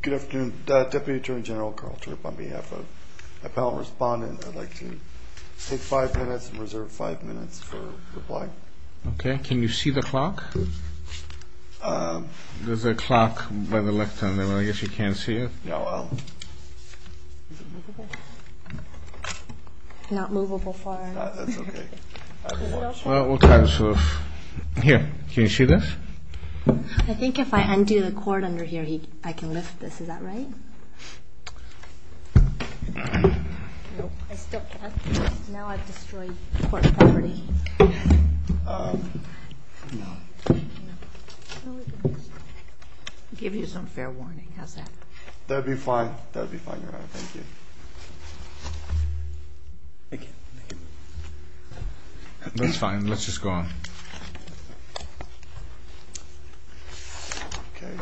Good afternoon. Deputy Attorney General Karl Tripp on behalf of my panel of respondents. I'd like to take five minutes and reserve five minutes for reply. Okay. Can you see the clock? There's a clock by the left. I guess you can't see it. Not movable for... That's okay. Well, we'll try to sort of... Here. Can you see this? I think if I undo the cord under here, I can lift this. Is that right? Nope. I still can't. Now I've destroyed court property. Give you some fair warning. How's that? That'd be fine. That'd be fine, Your Honor. Thank you. Thank you. That's fine. Let's just go on. Okay.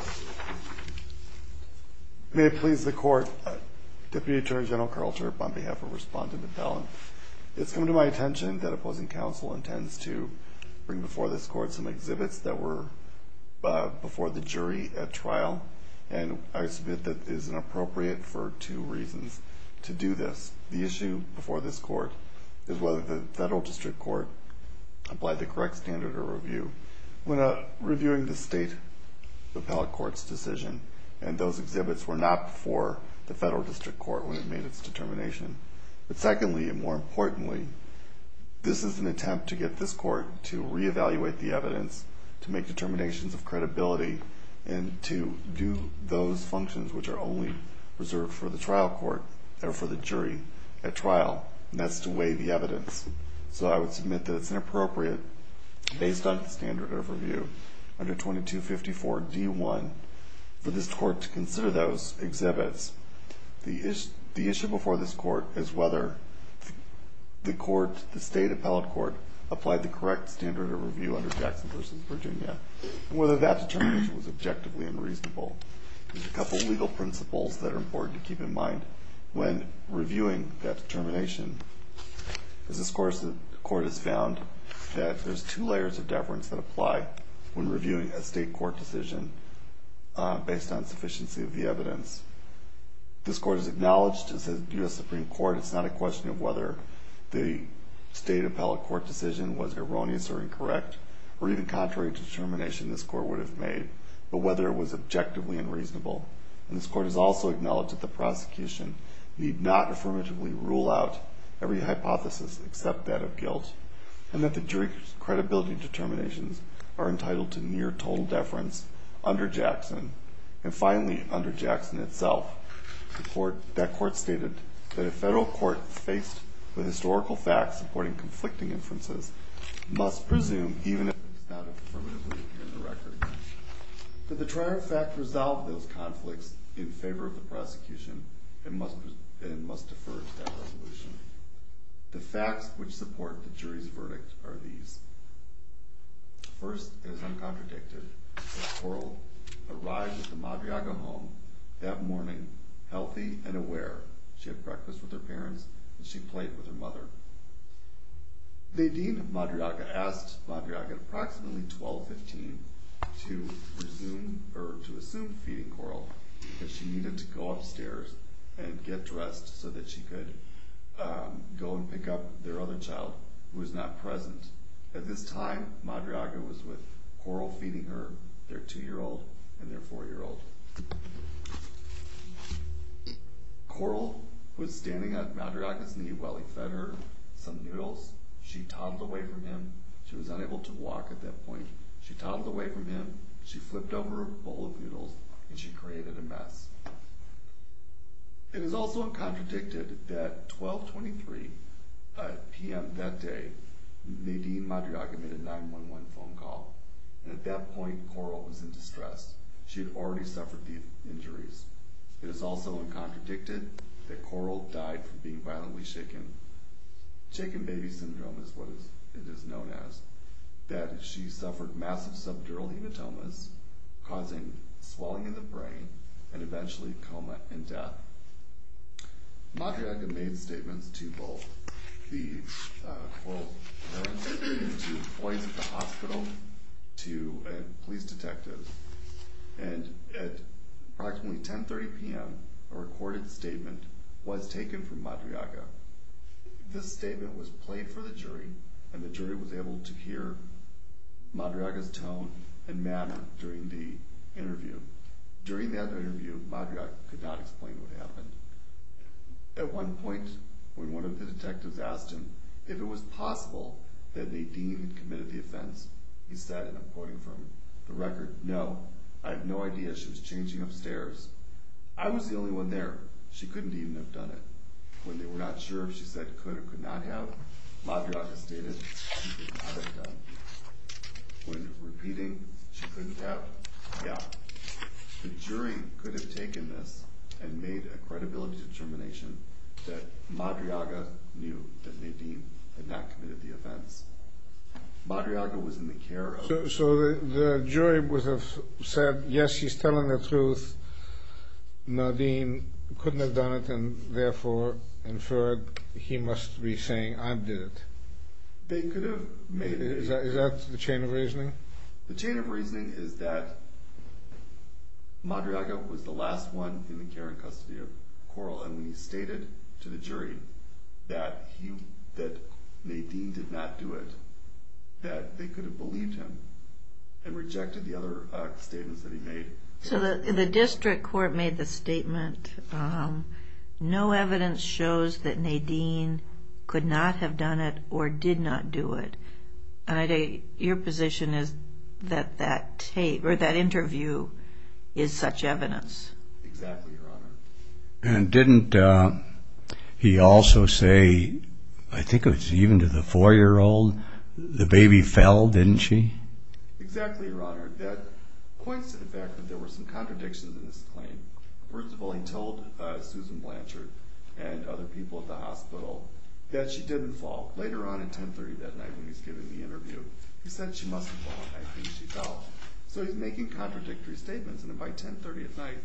May it please the court. Deputy Attorney General Karl Tripp on behalf of respondent appellant. It's come to my attention that opposing counsel intends to bring before this court some exhibits that were before the jury at trial. And I submit that it is inappropriate for two reasons to do this. The issue before this court is whether the federal district court applied the correct standard of review. We're not reviewing the state appellate court's decision, and those exhibits were not before the federal district court when it made its determination. But secondly, and more importantly, this is an attempt to get this court to reevaluate the evidence, to make determinations of credibility, and to do those functions which are only reserved for the trial court or for the jury at trial. And that's to weigh the evidence. So I would submit that it's inappropriate based on the standard of review under 2254 D1 for this court to consider those exhibits. The issue before this court is whether the state appellate court applied the correct standard of review under Jackson v. Virginia, and whether that determination was objectively unreasonable. There's a couple of legal principles that are important to keep in mind when reviewing that determination. As this court has found that there's two layers of deference that apply when reviewing a state court decision based on sufficiency of the evidence. This court has acknowledged, as a U.S. Supreme Court, it's not a question of whether the state appellate court decision was erroneous or incorrect, or even contrary to determination this court would have made, but whether it was objectively unreasonable. And this court has also acknowledged that the prosecution need not affirmatively rule out every hypothesis except that of guilt, and that the jury's credibility determinations are entitled to near total deference under Jackson, and finally under Jackson itself. That court stated that a federal court faced with historical facts supporting conflicting inferences must presume even if it's not affirmatively in the record. Did the trial in fact resolve those conflicts in favor of the prosecution, and must defer to that resolution? The facts which support the jury's verdict are these. First, as uncontradicted, Coral arrived at the Madriaga home that morning healthy and aware. She had breakfast with her parents, and she played with her mother. Nadine Madriaga asked Madriaga at approximately 12-15 to assume feeding Coral, because she needed to go upstairs and get dressed so that she could go and pick up their other child, who was not present. At this time, Madriaga was with Coral feeding her their two-year-old and their four-year-old. Coral was standing on Madriaga's knee while he fed her some noodles. She toddled away from him. She was unable to walk at that point. She toddled away from him, she flipped over a bowl of noodles, and she created a mess. It is also uncontradicted that at 12-23 p.m. that day, Nadine Madriaga made a 911 phone call. At that point, Coral was in distress. She had already suffered the injuries. It is also uncontradicted that Coral died from being violently shaken. Shaken baby syndrome is what it is known as. She suffered massive subdural hematomas, causing swelling in the brain, and eventually coma and death. Madriaga made statements to both. The Coral was taken to points at the hospital to police detectives. At approximately 10.30 p.m., a recorded statement was taken from Madriaga. This statement was played for the jury, and the jury was able to hear Madriaga's tone and manner during the interview. During that interview, Madriaga could not explain what happened. At one point, when one of the detectives asked him if it was possible that Nadine had committed the offense, he said, and I'm quoting from the record, No, I have no idea. She was changing upstairs. I was the only one there. She couldn't even have done it. When they were not sure if she said could or could not have, Madriaga stated she could not have done it. When repeating, she couldn't have. The jury could have taken this and made a credibility determination that Madriaga knew that Nadine had not committed the offense. Madriaga was in the care of the jury. So the jury would have said, yes, she's telling the truth. Nadine couldn't have done it, and therefore inferred he must be saying, I did it. They could have made it. Is that the chain of reasoning? The chain of reasoning is that Madriaga was the last one in the care and custody of Coral, and when he stated to the jury that Nadine did not do it, that they could have believed him and rejected the other statements that he made. So the district court made the statement, no evidence shows that Nadine could not have done it or did not do it. Your position is that that interview is such evidence. Exactly, Your Honor. And didn't he also say, I think it was even to the 4-year-old, the baby fell, didn't she? Exactly, Your Honor. That points to the fact that there were some contradictions in this claim. First of all, he told Susan Blanchard and other people at the hospital that she didn't fall. Later on, at 10.30 that night when he was giving the interview, he said she must have fallen. I think she fell. So he's making contradictory statements, and by 10.30 at night,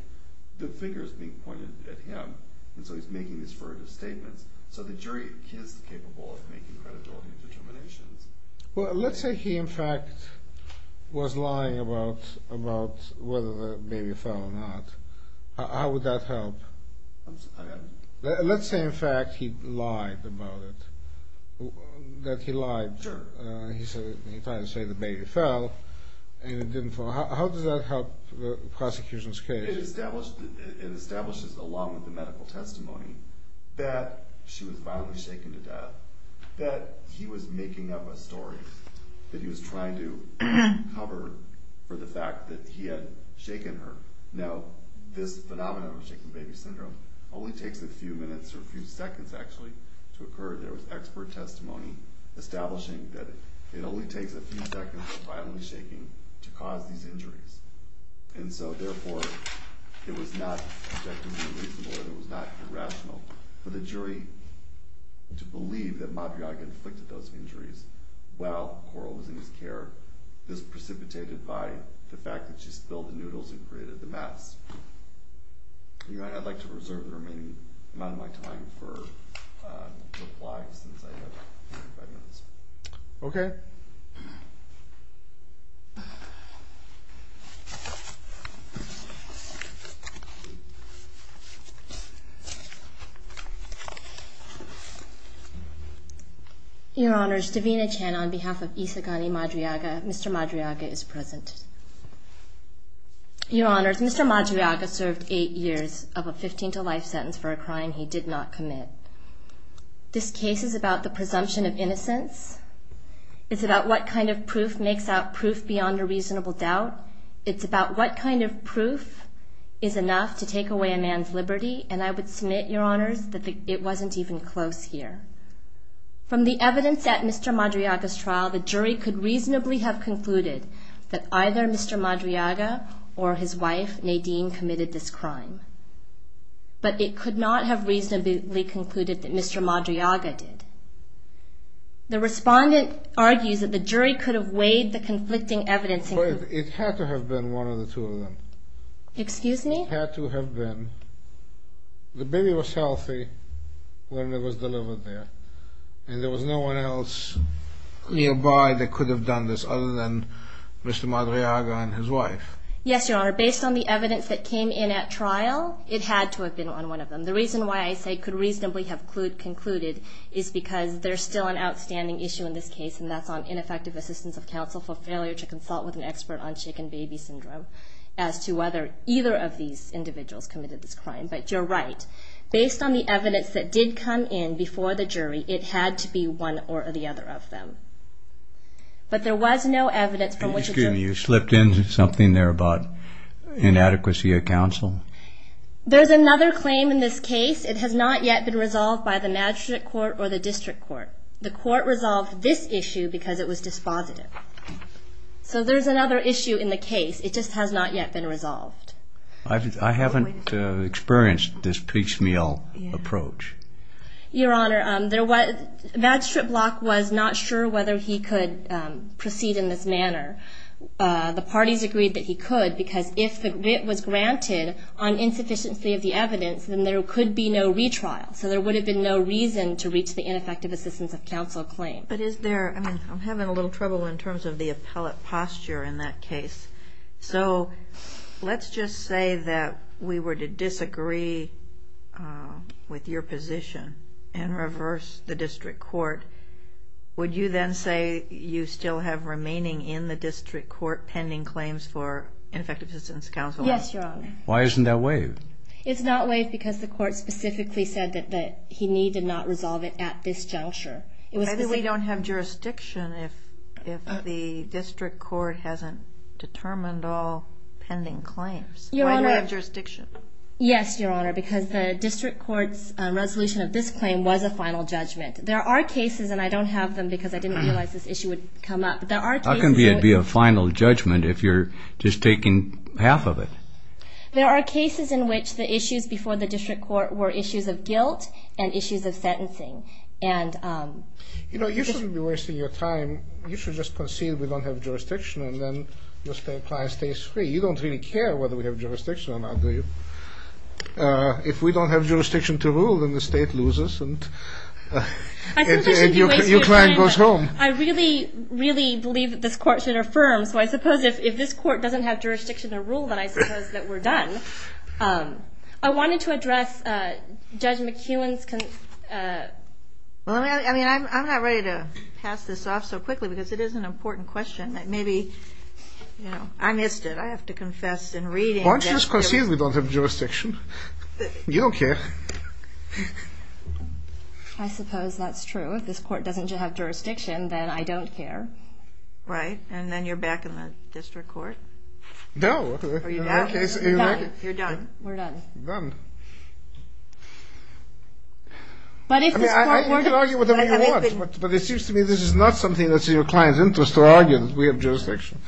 the figure is being pointed at him. And so he's making these furtive statements. So the jury, he is capable of making credibility determinations. Well, let's say he, in fact, was lying about whether the baby fell or not. How would that help? Let's say, in fact, he lied about it, that he lied. Sure. He tried to say the baby fell, and it didn't fall. How does that help the prosecution's case? It establishes, along with the medical testimony, that she was violently shaken to death, that he was making up a story that he was trying to cover for the fact that he had shaken her. Now, this phenomenon of shaking baby syndrome only takes a few minutes, or a few seconds, actually, to occur. There was expert testimony establishing that it only takes a few seconds of violently shaking to cause these injuries. And so, therefore, it was not objectively reasonable, and it was not irrational, for the jury to believe that Mabryaga inflicted those injuries while Coral was in his care. This precipitated by the fact that she spilled the noodles and created the mess. Your Honor, I'd like to reserve the remaining amount of my time for replies, since I have 45 minutes. Okay. Your Honor. Your Honors, Davina Chan on behalf of Isagani Mabryaga. Mr. Mabryaga is present. Your Honors, Mr. Mabryaga served eight years of a 15-to-life sentence for a crime he did not commit. This case is about the presumption of innocence. It's about what kind of proof makes out proof beyond a reasonable doubt. It's about what kind of proof is enough to take away a man's liberty. And I would submit, Your Honors, that it wasn't even close here. From the evidence at Mr. Mabryaga's trial, the jury could reasonably have concluded that either Mr. Mabryaga or his wife, Nadine, committed this crime. But it could not have reasonably concluded that Mr. Mabryaga did. The respondent argues that the jury could have weighed the conflicting evidence. It had to have been one of the two of them. Excuse me? It had to have been. The baby was healthy when it was delivered there. And there was no one else nearby that could have done this other than Mr. Mabryaga and his wife. Yes, Your Honor. Based on the evidence that came in at trial, it had to have been on one of them. The reason why I say could reasonably have concluded is because there's still an outstanding issue in this case, and that's on ineffective assistance of counsel for failure to consult with an expert on shaken baby syndrome as to whether either of these individuals committed this crime. But you're right. Based on the evidence that did come in before the jury, it had to be one or the other of them. But there was no evidence from which it's a... You slipped into something there about inadequacy of counsel. There's another claim in this case. It has not yet been resolved by the magistrate court or the district court. The court resolved this issue because it was dispositive. So there's another issue in the case. It just has not yet been resolved. I haven't experienced this piecemeal approach. Your Honor, the magistrate block was not sure whether he could proceed in this manner. The parties agreed that he could because if it was granted on insufficiency of the evidence, then there could be no retrial. So there would have been no reason to reach the ineffective assistance of counsel claim. But is there... I mean, I'm having a little trouble in terms of the appellate posture in that case. So let's just say that we were to disagree with your position and reverse the district court. Would you then say you still have remaining in the district court pending claims for ineffective assistance of counsel? Yes, Your Honor. Why isn't that waived? It's not waived because the court specifically said that he needed not resolve it at this juncture. Maybe we don't have jurisdiction if the district court hasn't determined all pending claims. Why do we have jurisdiction? Yes, Your Honor, because the district court's resolution of this claim was a final judgment. There are cases, and I don't have them because I didn't realize this issue would come up. How can it be a final judgment if you're just taking half of it? There are cases in which the issues before the district court were issues of guilt and issues of sentencing. You know, you shouldn't be wasting your time. You should just concede we don't have jurisdiction and then your client stays free. You don't really care whether we have jurisdiction or not, do you? If we don't have jurisdiction to rule, then the state loses and your client goes home. I really, really believe that this court should affirm. So I suppose if this court doesn't have jurisdiction to rule, then I suppose that we're done. I wanted to address Judge McEwen's… I mean, I'm not ready to pass this off so quickly because it is an important question. Maybe, you know, I missed it. I have to confess in reading. Why don't you just concede we don't have jurisdiction? You don't care. I suppose that's true. If this court doesn't have jurisdiction, then I don't care. Right, and then you're back in the district court? No. Are you done? You're done. We're done. You're done. I mean, I can argue whatever you want, but it seems to me this is not something that's in your client's interest to argue that we have jurisdiction.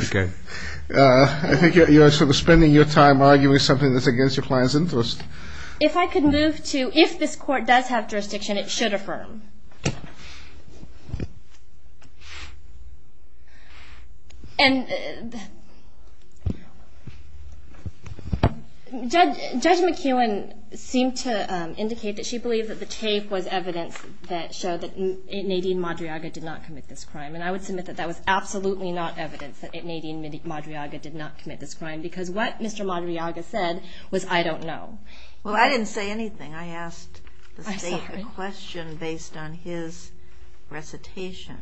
Okay. I think you're sort of spending your time arguing something that's against your client's interest. If I could move to if this court does have jurisdiction, it should affirm. And Judge McEwen seemed to indicate that she believed that the tape was evidence that showed that Nadine Madriaga did not commit this crime, and I would submit that that was absolutely not evidence that Nadine Madriaga did not commit this crime because what Mr. Madriaga said was, I don't know. Well, I didn't say anything. I asked the state a question based on his recitation,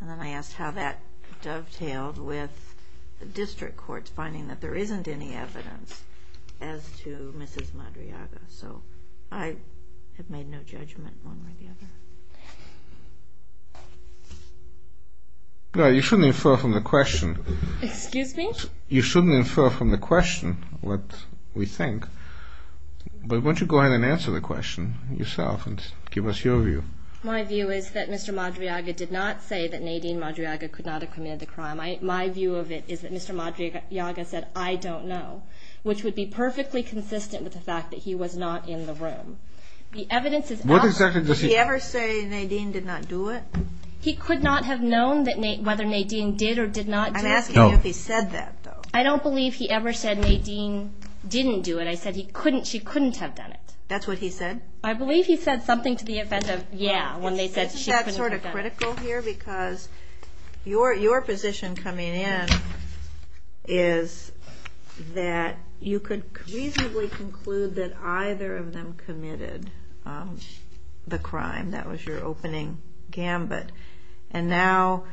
and then I asked how that dovetailed with the district courts finding that there isn't any evidence as to Mrs. Madriaga. So I have made no judgment one way or the other. No, you shouldn't infer from the question. Excuse me? You shouldn't infer from the question what we think, but why don't you go ahead and answer the question yourself and give us your view. My view is that Mr. Madriaga did not say that Nadine Madriaga could not have committed the crime. My view of it is that Mr. Madriaga said, I don't know, which would be perfectly consistent with the fact that he was not in the room. What exactly does he say? Did he ever say Nadine did not do it? He could not have known whether Nadine did or did not do it. I'm asking you if he said that, though. I don't believe he ever said Nadine didn't do it. I said she couldn't have done it. That's what he said? I believe he said something to the effect of, yeah, when they said she couldn't have done it. Isn't that sort of critical here? Because your position coming in is that you could reasonably conclude that either of them committed the crime. That was your opening gambit. And now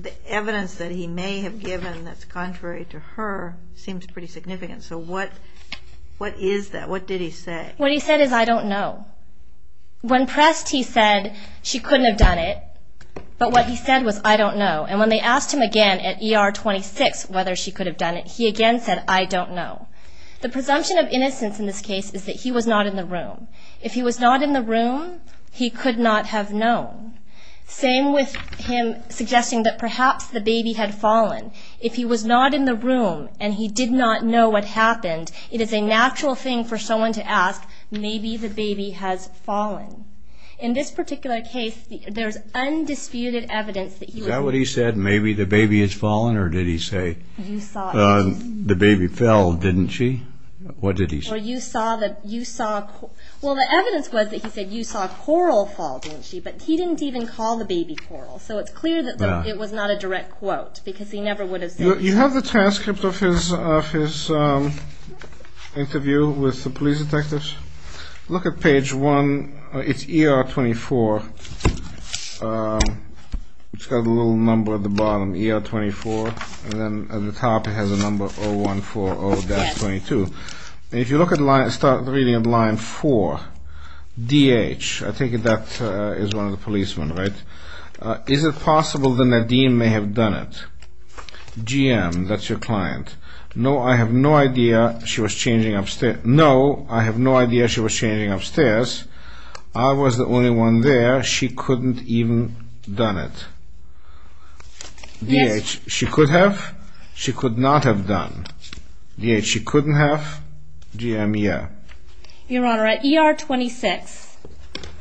the evidence that he may have given that's contrary to her seems pretty significant. So what is that? What did he say? What he said is I don't know. When pressed, he said she couldn't have done it. But what he said was I don't know. And when they asked him again at ER 26 whether she could have done it, he again said I don't know. The presumption of innocence in this case is that he was not in the room. If he was not in the room, he could not have known. Same with him suggesting that perhaps the baby had fallen. If he was not in the room and he did not know what happened, it is a natural thing for someone to ask, maybe the baby has fallen. In this particular case, there's undisputed evidence that you can say. Is that what he said, maybe the baby has fallen? Or did he say the baby fell, didn't she? What did he say? Well, the evidence was that he said you saw a coral fall, didn't she? But he didn't even call the baby coral. So it's clear that it was not a direct quote because he never would have said that. You have the transcript of his interview with the police detectives? Look at page 1. It's ER 24. It's got a little number at the bottom, ER 24. And then at the top, it has a number 0140-22. And if you look at the line, start reading at line 4. DH, I take it that is one of the policemen, right? Is it possible that Nadim may have done it? GM, that's your client. No, I have no idea she was changing upstairs. No, I have no idea she was changing upstairs. I was the only one there. She couldn't have even done it. DH, she could have. She could not have done. DH, she couldn't have. GM, yeah. Your Honor, at ER 26.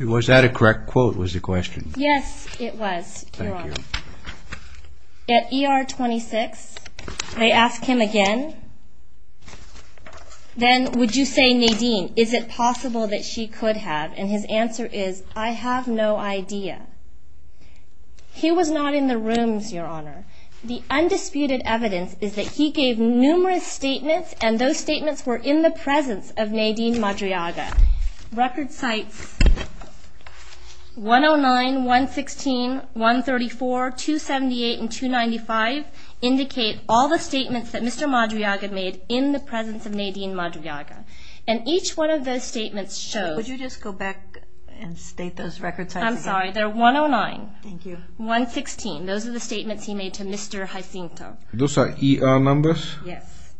Was that a correct quote was the question? Yes, it was, Your Honor. Thank you. At ER 26, they ask him again. Then would you say, Nadim, is it possible that she could have? And his answer is, I have no idea. He was not in the rooms, Your Honor. The undisputed evidence is that he gave numerous statements, and those statements were in the presence of Nadine Madriaga. Record sites 109, 116, 134, 278, and 295 indicate all the statements that Mr. Madriaga made in the presence of Nadine Madriaga. And each one of those statements shows. Would you just go back and state those record sites again? Sorry, they're 109. Thank you. 116, those are the statements he made to Mr. Jacinto. Those are ER numbers? Yes.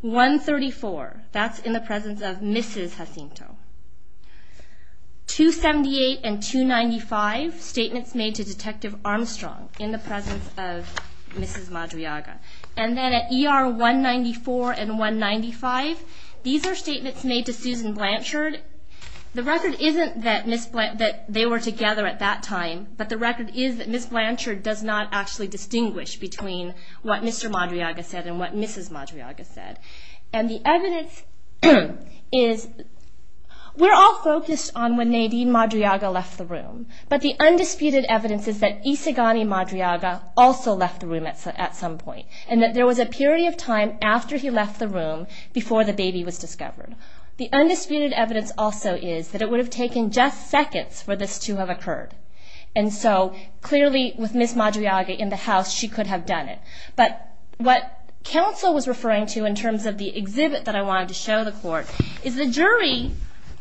134, that's in the presence of Mrs. Jacinto. 278 and 295, statements made to Detective Armstrong in the presence of Mrs. Madriaga. And then at ER 194 and 195, these are statements made to Susan Blanchard. The record isn't that they were together at that time, but the record is that Ms. Blanchard does not actually distinguish between what Mr. Madriaga said and what Mrs. Madriaga said. And the evidence is... We're all focused on when Nadine Madriaga left the room, but the undisputed evidence is that Isigani Madriaga also left the room at some point, and that there was a period of time after he left the room before the baby was discovered. The undisputed evidence also is that it would have taken just seconds for this to have occurred. And so clearly with Ms. Madriaga in the house, she could have done it. But what counsel was referring to in terms of the exhibit that I wanted to show the court is the jury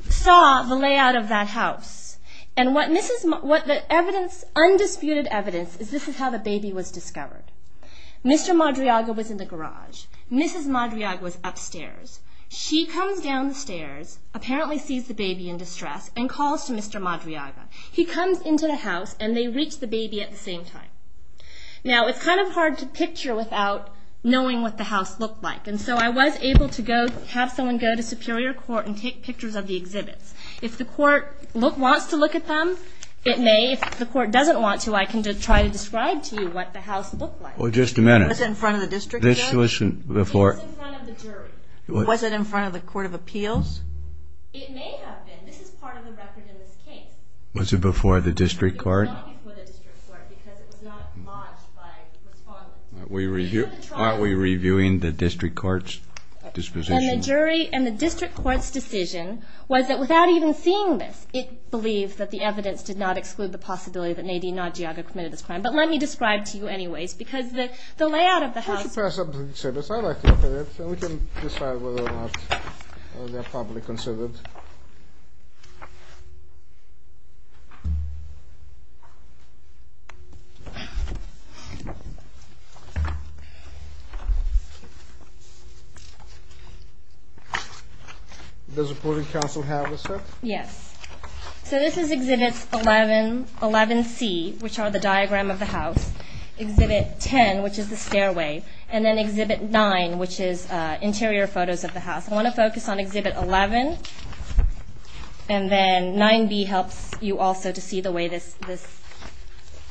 saw the layout of that house. And what the undisputed evidence is this is how the baby was discovered. Mr. Madriaga was in the garage. Mrs. Madriaga was upstairs. She comes down the stairs, apparently sees the baby in distress, and calls to Mr. Madriaga. He comes into the house, and they reach the baby at the same time. Now, it's kind of hard to picture without knowing what the house looked like, and so I was able to have someone go to Superior Court and take pictures of the exhibits. If the court wants to look at them, it may. If the court doesn't want to, I can try to describe to you what the house looked like. Well, just a minute. Was it in front of the district judge? It was in front of the jury. Was it in front of the Court of Appeals? It may have been. This is part of the record in this case. Was it before the district court? It was not before the district court because it was not lodged by respondents. Aren't we reviewing the district court's disposition? And the district court's decision was that without even seeing this, it believed that the evidence did not exclude the possibility that Nadine Madriaga committed this crime. But let me describe to you anyways because the layout of the house. Could you pass up the exhibits? I'd like to look at it so we can decide whether or not they're properly considered. Does the Board of Counsel have a set? Yes. So this is Exhibit 11C, which are the diagram of the house, Exhibit 10, which is the stairway, and then Exhibit 9, which is interior photos of the house. I want to focus on Exhibit 11, and then 9B helps you also to see the way this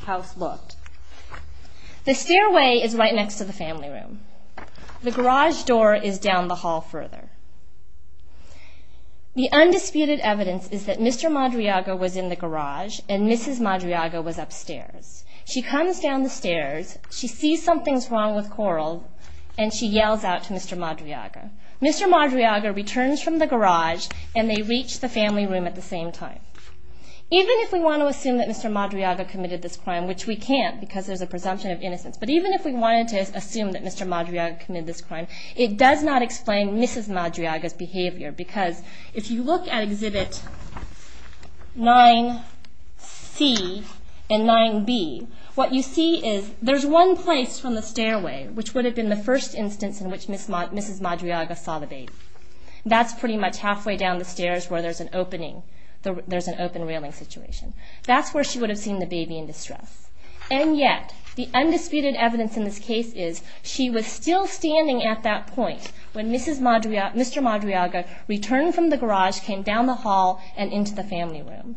house looked. The stairway is right next to the family room. The garage door is down the hall further. The undisputed evidence is that Mr. Madriaga was in the garage and Mrs. Madriaga was upstairs. She comes down the stairs. She sees something's wrong with Coral, and she yells out to Mr. Madriaga. Mr. Madriaga returns from the garage, and they reach the family room at the same time. Even if we want to assume that Mr. Madriaga committed this crime, which we can't because there's a presumption of innocence, but even if we wanted to assume that Mr. Madriaga committed this crime, it does not explain Mrs. Madriaga's behavior because if you look at Exhibit 9C and 9B, what you see is there's one place from the stairway which would have been the first instance in which Mrs. Madriaga saw the baby. That's pretty much halfway down the stairs where there's an open railing situation. That's where she would have seen the baby in distress. And yet, the undisputed evidence in this case is she was still standing at that point when Mr. Madriaga returned from the garage, came down the hall, and into the family room.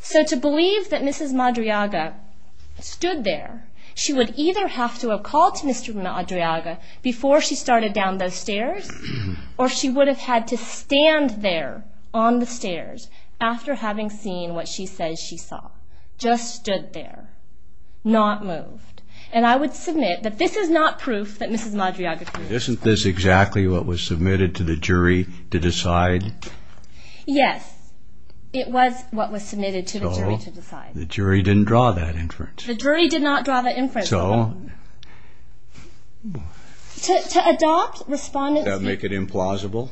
So to believe that Mrs. Madriaga stood there, she would either have to have called to Mr. Madriaga before she started down those stairs, or she would have had to stand there on the stairs after having seen what she says she saw, just stood there, not moved. And I would submit that this is not proof that Mrs. Madriaga committed this crime. Isn't this exactly what was submitted to the jury to decide? Yes, it was what was submitted to the jury to decide. Oh, the jury didn't draw that inference. The jury did not draw that inference. So... To adopt respondents... Does that make it implausible?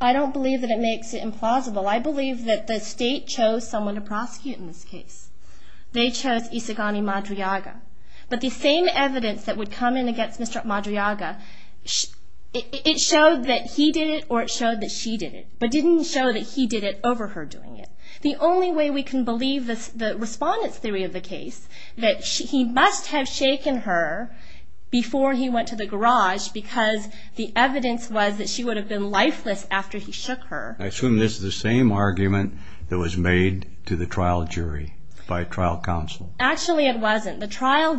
I don't believe that it makes it implausible. I believe that the state chose someone to prosecute in this case. They chose Isigani Madriaga. But the same evidence that would come in against Mr. Madriaga, it showed that he did it or it showed that she did it, but didn't show that he did it over her doing it. The only way we can believe the respondent's theory of the case, that he must have shaken her before he went to the garage because the evidence was that she would have been lifeless after he shook her. I assume this is the same argument that was made to the trial jury by trial counsel. Actually, it wasn't. The trial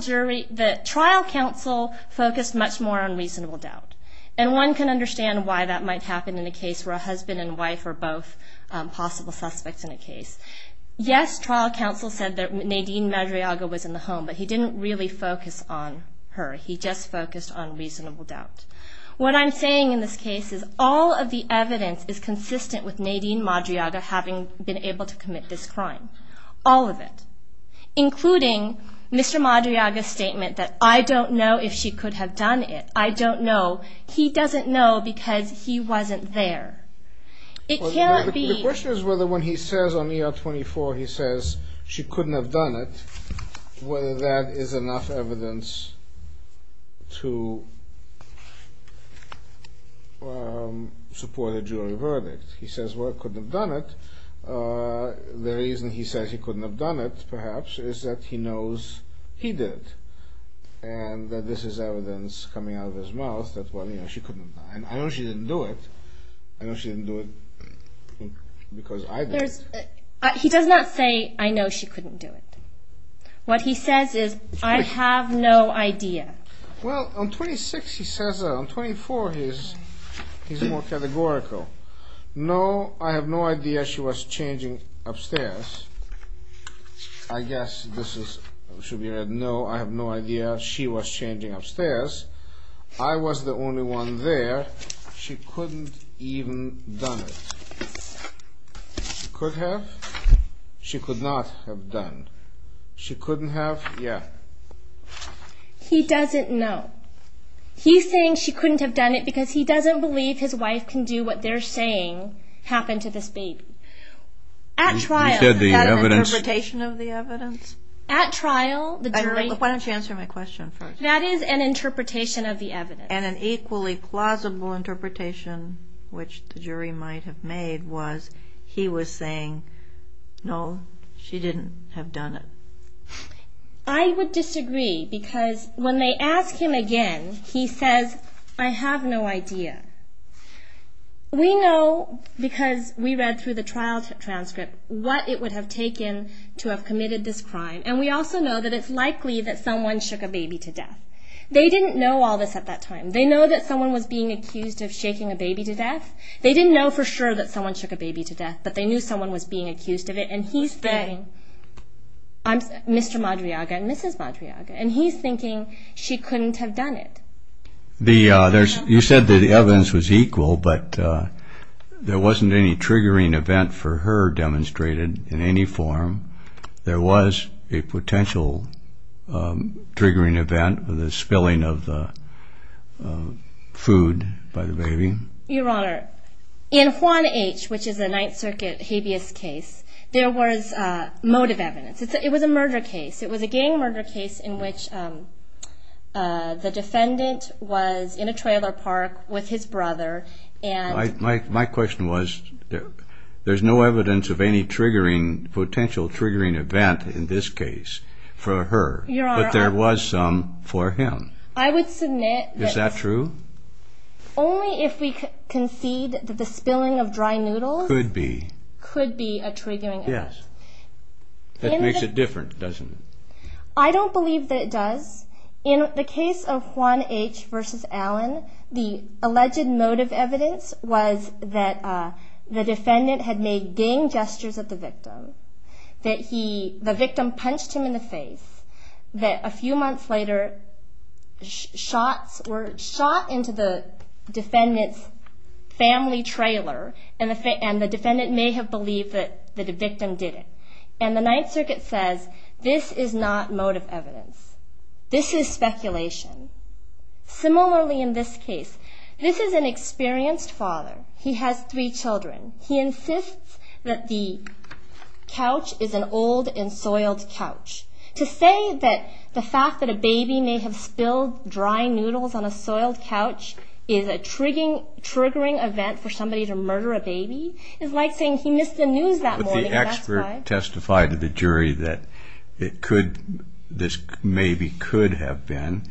counsel focused much more on reasonable doubt. And one can understand why that might happen in a case where a husband and wife are both possible suspects in a case. Yes, trial counsel said that Nadine Madriaga was in the home, but he didn't really focus on her. He just focused on reasonable doubt. What I'm saying in this case is all of the evidence is consistent with Nadine Madriaga having been able to commit this crime. All of it. Including Mr. Madriaga's statement that I don't know if she could have done it. I don't know. He doesn't know because he wasn't there. It can't be. The question is whether when he says on ER 24 he says she couldn't have done it, whether that is enough evidence to support a jury verdict. He says, well, I couldn't have done it. The reason he says he couldn't have done it, perhaps, is that he knows he did and that this is evidence coming out of his mouth that, well, you know, she couldn't have done it. I know she didn't do it. I know she didn't do it because I did. He does not say, I know she couldn't do it. What he says is, I have no idea. Well, on 26 he says that. On 24 he's more categorical. No, I have no idea she was changing upstairs. I guess this should be read, no, I have no idea she was changing upstairs. I was the only one there. She couldn't even have done it. She could have. She could not have done. She couldn't have. Yeah. He doesn't know. He's saying she couldn't have done it because he doesn't believe his wife can do what they're saying happened to this baby. At trial, is that an interpretation of the evidence? At trial, the jury. Why don't you answer my question first? That is an interpretation of the evidence. And an equally plausible interpretation, which the jury might have made, was he was saying, no, she didn't have done it. I would disagree because when they ask him again, he says, I have no idea. We know because we read through the trial transcript what it would have taken to have committed this crime, and we also know that it's likely that someone shook a baby to death. They didn't know all this at that time. They know that someone was being accused of shaking a baby to death. They didn't know for sure that someone shook a baby to death, but they knew someone was being accused of it. And he's saying, Mr. Madriaga and Mrs. Madriaga, and he's thinking she couldn't have done it. You said that the evidence was equal, but there wasn't any triggering event for her demonstrated in any form. There was a potential triggering event with the spilling of the food by the baby. Your Honor, in Juan H., which is a Ninth Circuit habeas case, there was motive evidence. It was a murder case. It was a gang murder case in which the defendant was in a trailer park with his brother. My question was there's no evidence of any triggering, potential triggering event in this case for her, but there was some for him. I would submit that only if we concede that the spilling of dry noodles could be a triggering event. Yes. That makes it different, doesn't it? I don't believe that it does. In the case of Juan H. v. Allen, the alleged motive evidence was that the defendant had made gang gestures at the victim, that the victim punched him in the face, that a few months later shots were shot into the defendant's family trailer, and the defendant may have believed that the victim did it. And the Ninth Circuit says this is not motive evidence. This is speculation. Similarly, in this case, this is an experienced father. He has three children. He insists that the couch is an old and soiled couch. To say that the fact that a baby may have spilled dry noodles on a soiled couch is a triggering event for somebody to murder a baby is like saying he missed the news that morning. But the expert testified to the jury that this maybe could have been,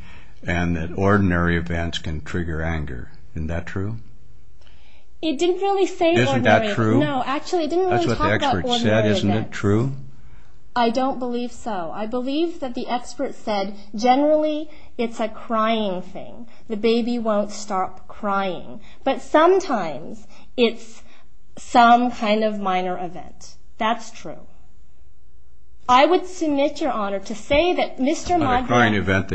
and that ordinary events can trigger anger. Isn't that true? It didn't really say ordinary events. Isn't that true? No, actually, it didn't really talk about ordinary events. That's what the expert said. Isn't it true? I don't believe so. I believe that the expert said generally it's a crying thing. The baby won't stop crying. But sometimes it's some kind of minor event. That's true. I would submit, Your Honor, to say that Mr. Madri... A crying event,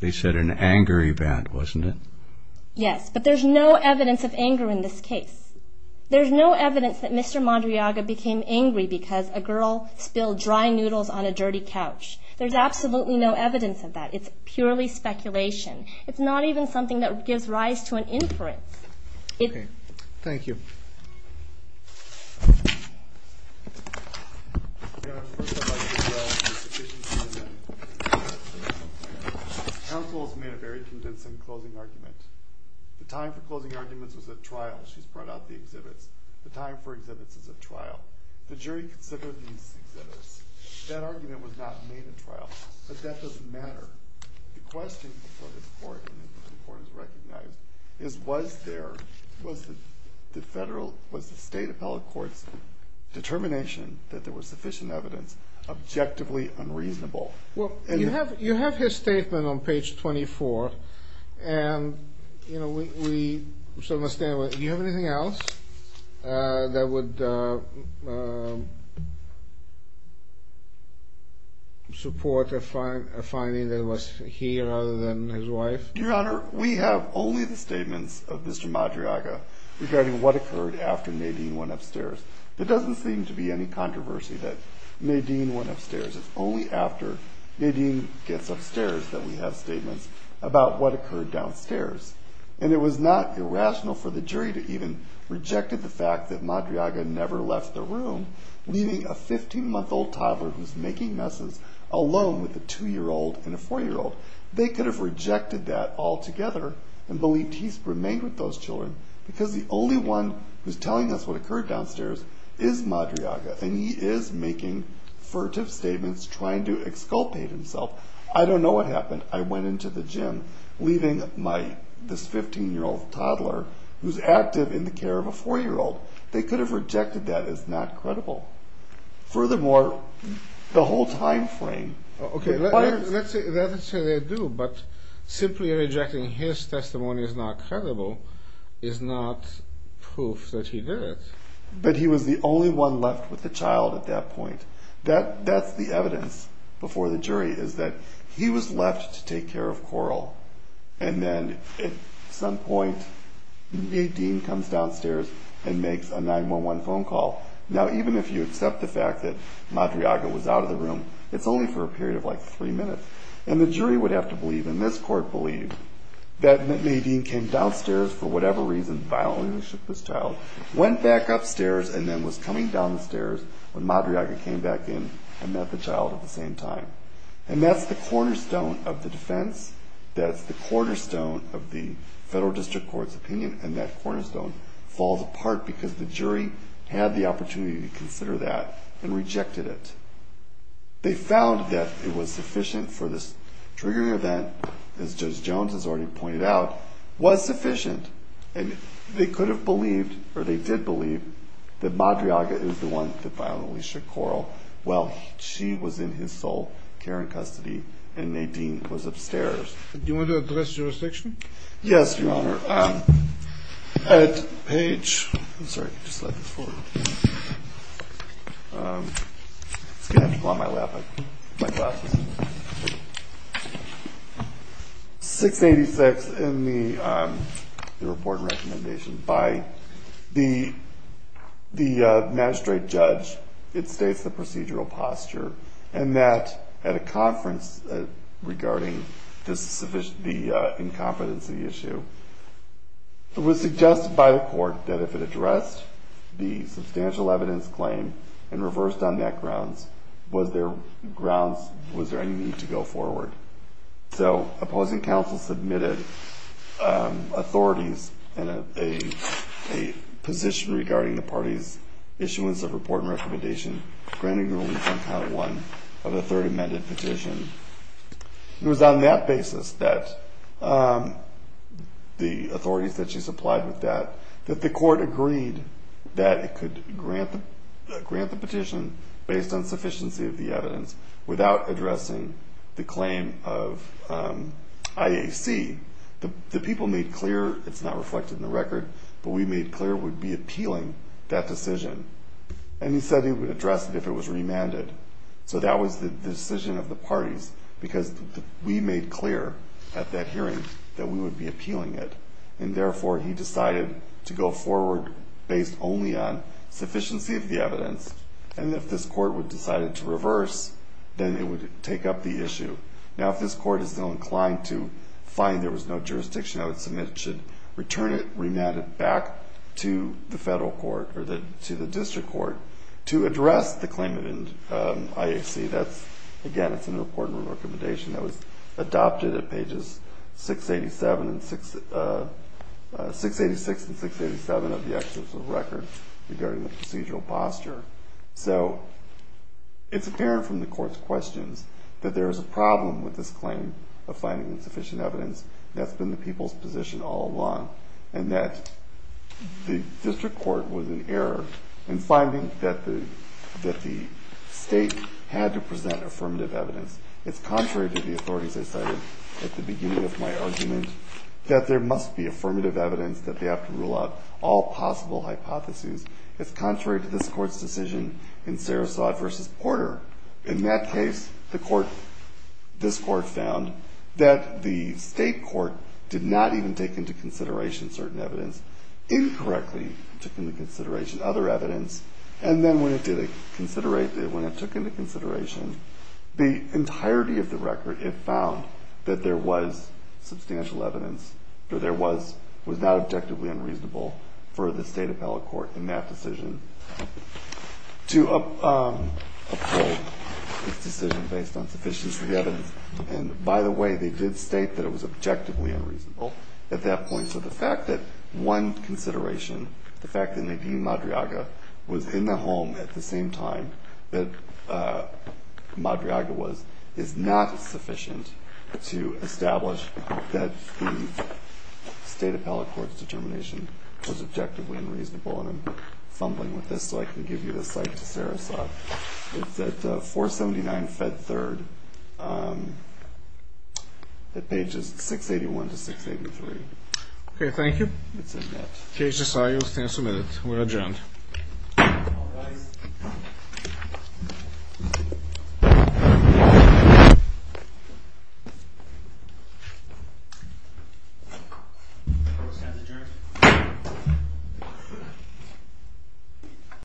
they said an anger event, wasn't it? Yes, but there's no evidence of anger in this case. There's no evidence that Mr. Madriaga became angry because a girl spilled dry noodles on a dirty couch. There's absolutely no evidence of that. It's purely speculation. It's not even something that gives rise to an inference. Thank you. Counsel has made a very convincing closing argument. The time for closing arguments was at trial. She's brought out the exhibits. The time for exhibits is at trial. The jury considered these exhibits. That argument was not made at trial. But that doesn't matter. The question before this court and before this court is recognized is was there was the federal, was the state appellate court's determination that there was sufficient evidence objectively unreasonable? Well, you have his statement on page 24. And, you know, we certainly stand by it. Do you have anything else that would support a finding that it was he rather than his wife? Your Honor, we have only the statements of Mr. Madriaga regarding what occurred after Nadine went upstairs. There doesn't seem to be any controversy that Nadine went upstairs. It's only after Nadine gets upstairs that we have statements about what occurred downstairs. And it was not irrational for the jury to even rejected the fact that Madriaga never left the room, leaving a 15-month-old toddler who's making messes alone with a 2-year-old and a 4-year-old. They could have rejected that altogether and believed he remained with those children because the only one who's telling us what occurred downstairs is Madriaga. And he is making furtive statements trying to exculpate himself. I don't know what happened. I went into the gym leaving my, this 15-year-old toddler who's active in the care of a 4-year-old. They could have rejected that as not credible. Furthermore, the whole time frame. Okay, let's say they do, but simply rejecting his testimony as not credible is not proof that he did it. But he was the only one left with the child at that point. That's the evidence before the jury is that he was left to take care of Coral. And then at some point, Nadine comes downstairs and makes a 911 phone call. Now, even if you accept the fact that Madriaga was out of the room, it's only for a period of like three minutes. And the jury would have to believe, and this court believed, that Nadine came downstairs for whatever reason, violently shook this child, went back upstairs and then was coming down the stairs when Madriaga came back in and met the child at the same time. And that's the cornerstone of the defense. That's the cornerstone of the federal district court's opinion. And that cornerstone falls apart because the jury had the opportunity to consider that and rejected it. They found that it was sufficient for this triggering event, as Judge Jones has already pointed out, was sufficient. And they could have believed, or they did believe, that Madriaga is the one that violently shook Coral. Well, she was in his sole care and custody, and Nadine was upstairs. Do you want to address jurisdiction? Yes, Your Honor. At page 686 in the report and recommendation by the magistrate judge, it states the procedural posture, and that at a conference regarding the incompetency issue, it was suggested by the court that if it addressed the substantial evidence claim and reversed on that grounds, was there any need to go forward? So opposing counsel submitted authorities and a position regarding the party's issuance of report and recommendation, granting ruling on count one of the third amended petition. It was on that basis that the authorities that she supplied with that, that the court agreed that it could grant the petition based on sufficiency of the evidence without addressing the claim of IAC. The people made clear, it's not reflected in the record, but we made clear would be appealing that decision. And he said he would address it if it was remanded. So that was the decision of the parties, because we made clear at that hearing that we would be appealing it. And therefore, he decided to go forward based only on sufficiency of the evidence. And if this court would decide to reverse, then it would take up the issue. Now, if this court is still inclined to find there was no jurisdiction, I would submit it should return it, remand it back to the federal court or to the district court to address the claimant in IAC. Again, it's in the report and recommendation that was adopted at pages 686 and 687 of the excerpt of the record regarding the procedural posture. So it's apparent from the court's questions that there is a problem with this claim of finding insufficient evidence. That's been the people's position all along, and that the district court was in error in finding that the state had to present affirmative evidence. It's contrary to the authorities I cited at the beginning of my argument that there must be affirmative evidence, that they have to rule out all possible hypotheses. It's contrary to this court's decision in Sarasota v. Porter. In that case, this court found that the state court did not even take into consideration certain evidence. Incorrectly took into consideration other evidence, and then when it took into consideration the entirety of the record, it found that there was substantial evidence, or there was not objectively unreasonable for the state appellate court in that decision to uphold its decision based on sufficiency of the evidence. And by the way, they did state that it was objectively unreasonable at that point. So the fact that one consideration, the fact that Nadine Madriaga was in the home at the same time that Madriaga was, is not sufficient to establish that the state appellate court's determination was objectively unreasonable, and I'm fumbling with this so I can give you the cite to Sarasota. It's at 479 Fed 3rd at pages 681 to 683. Okay, thank you. It's in that. Case decided, stand submitted. We're adjourned. Court is adjourned.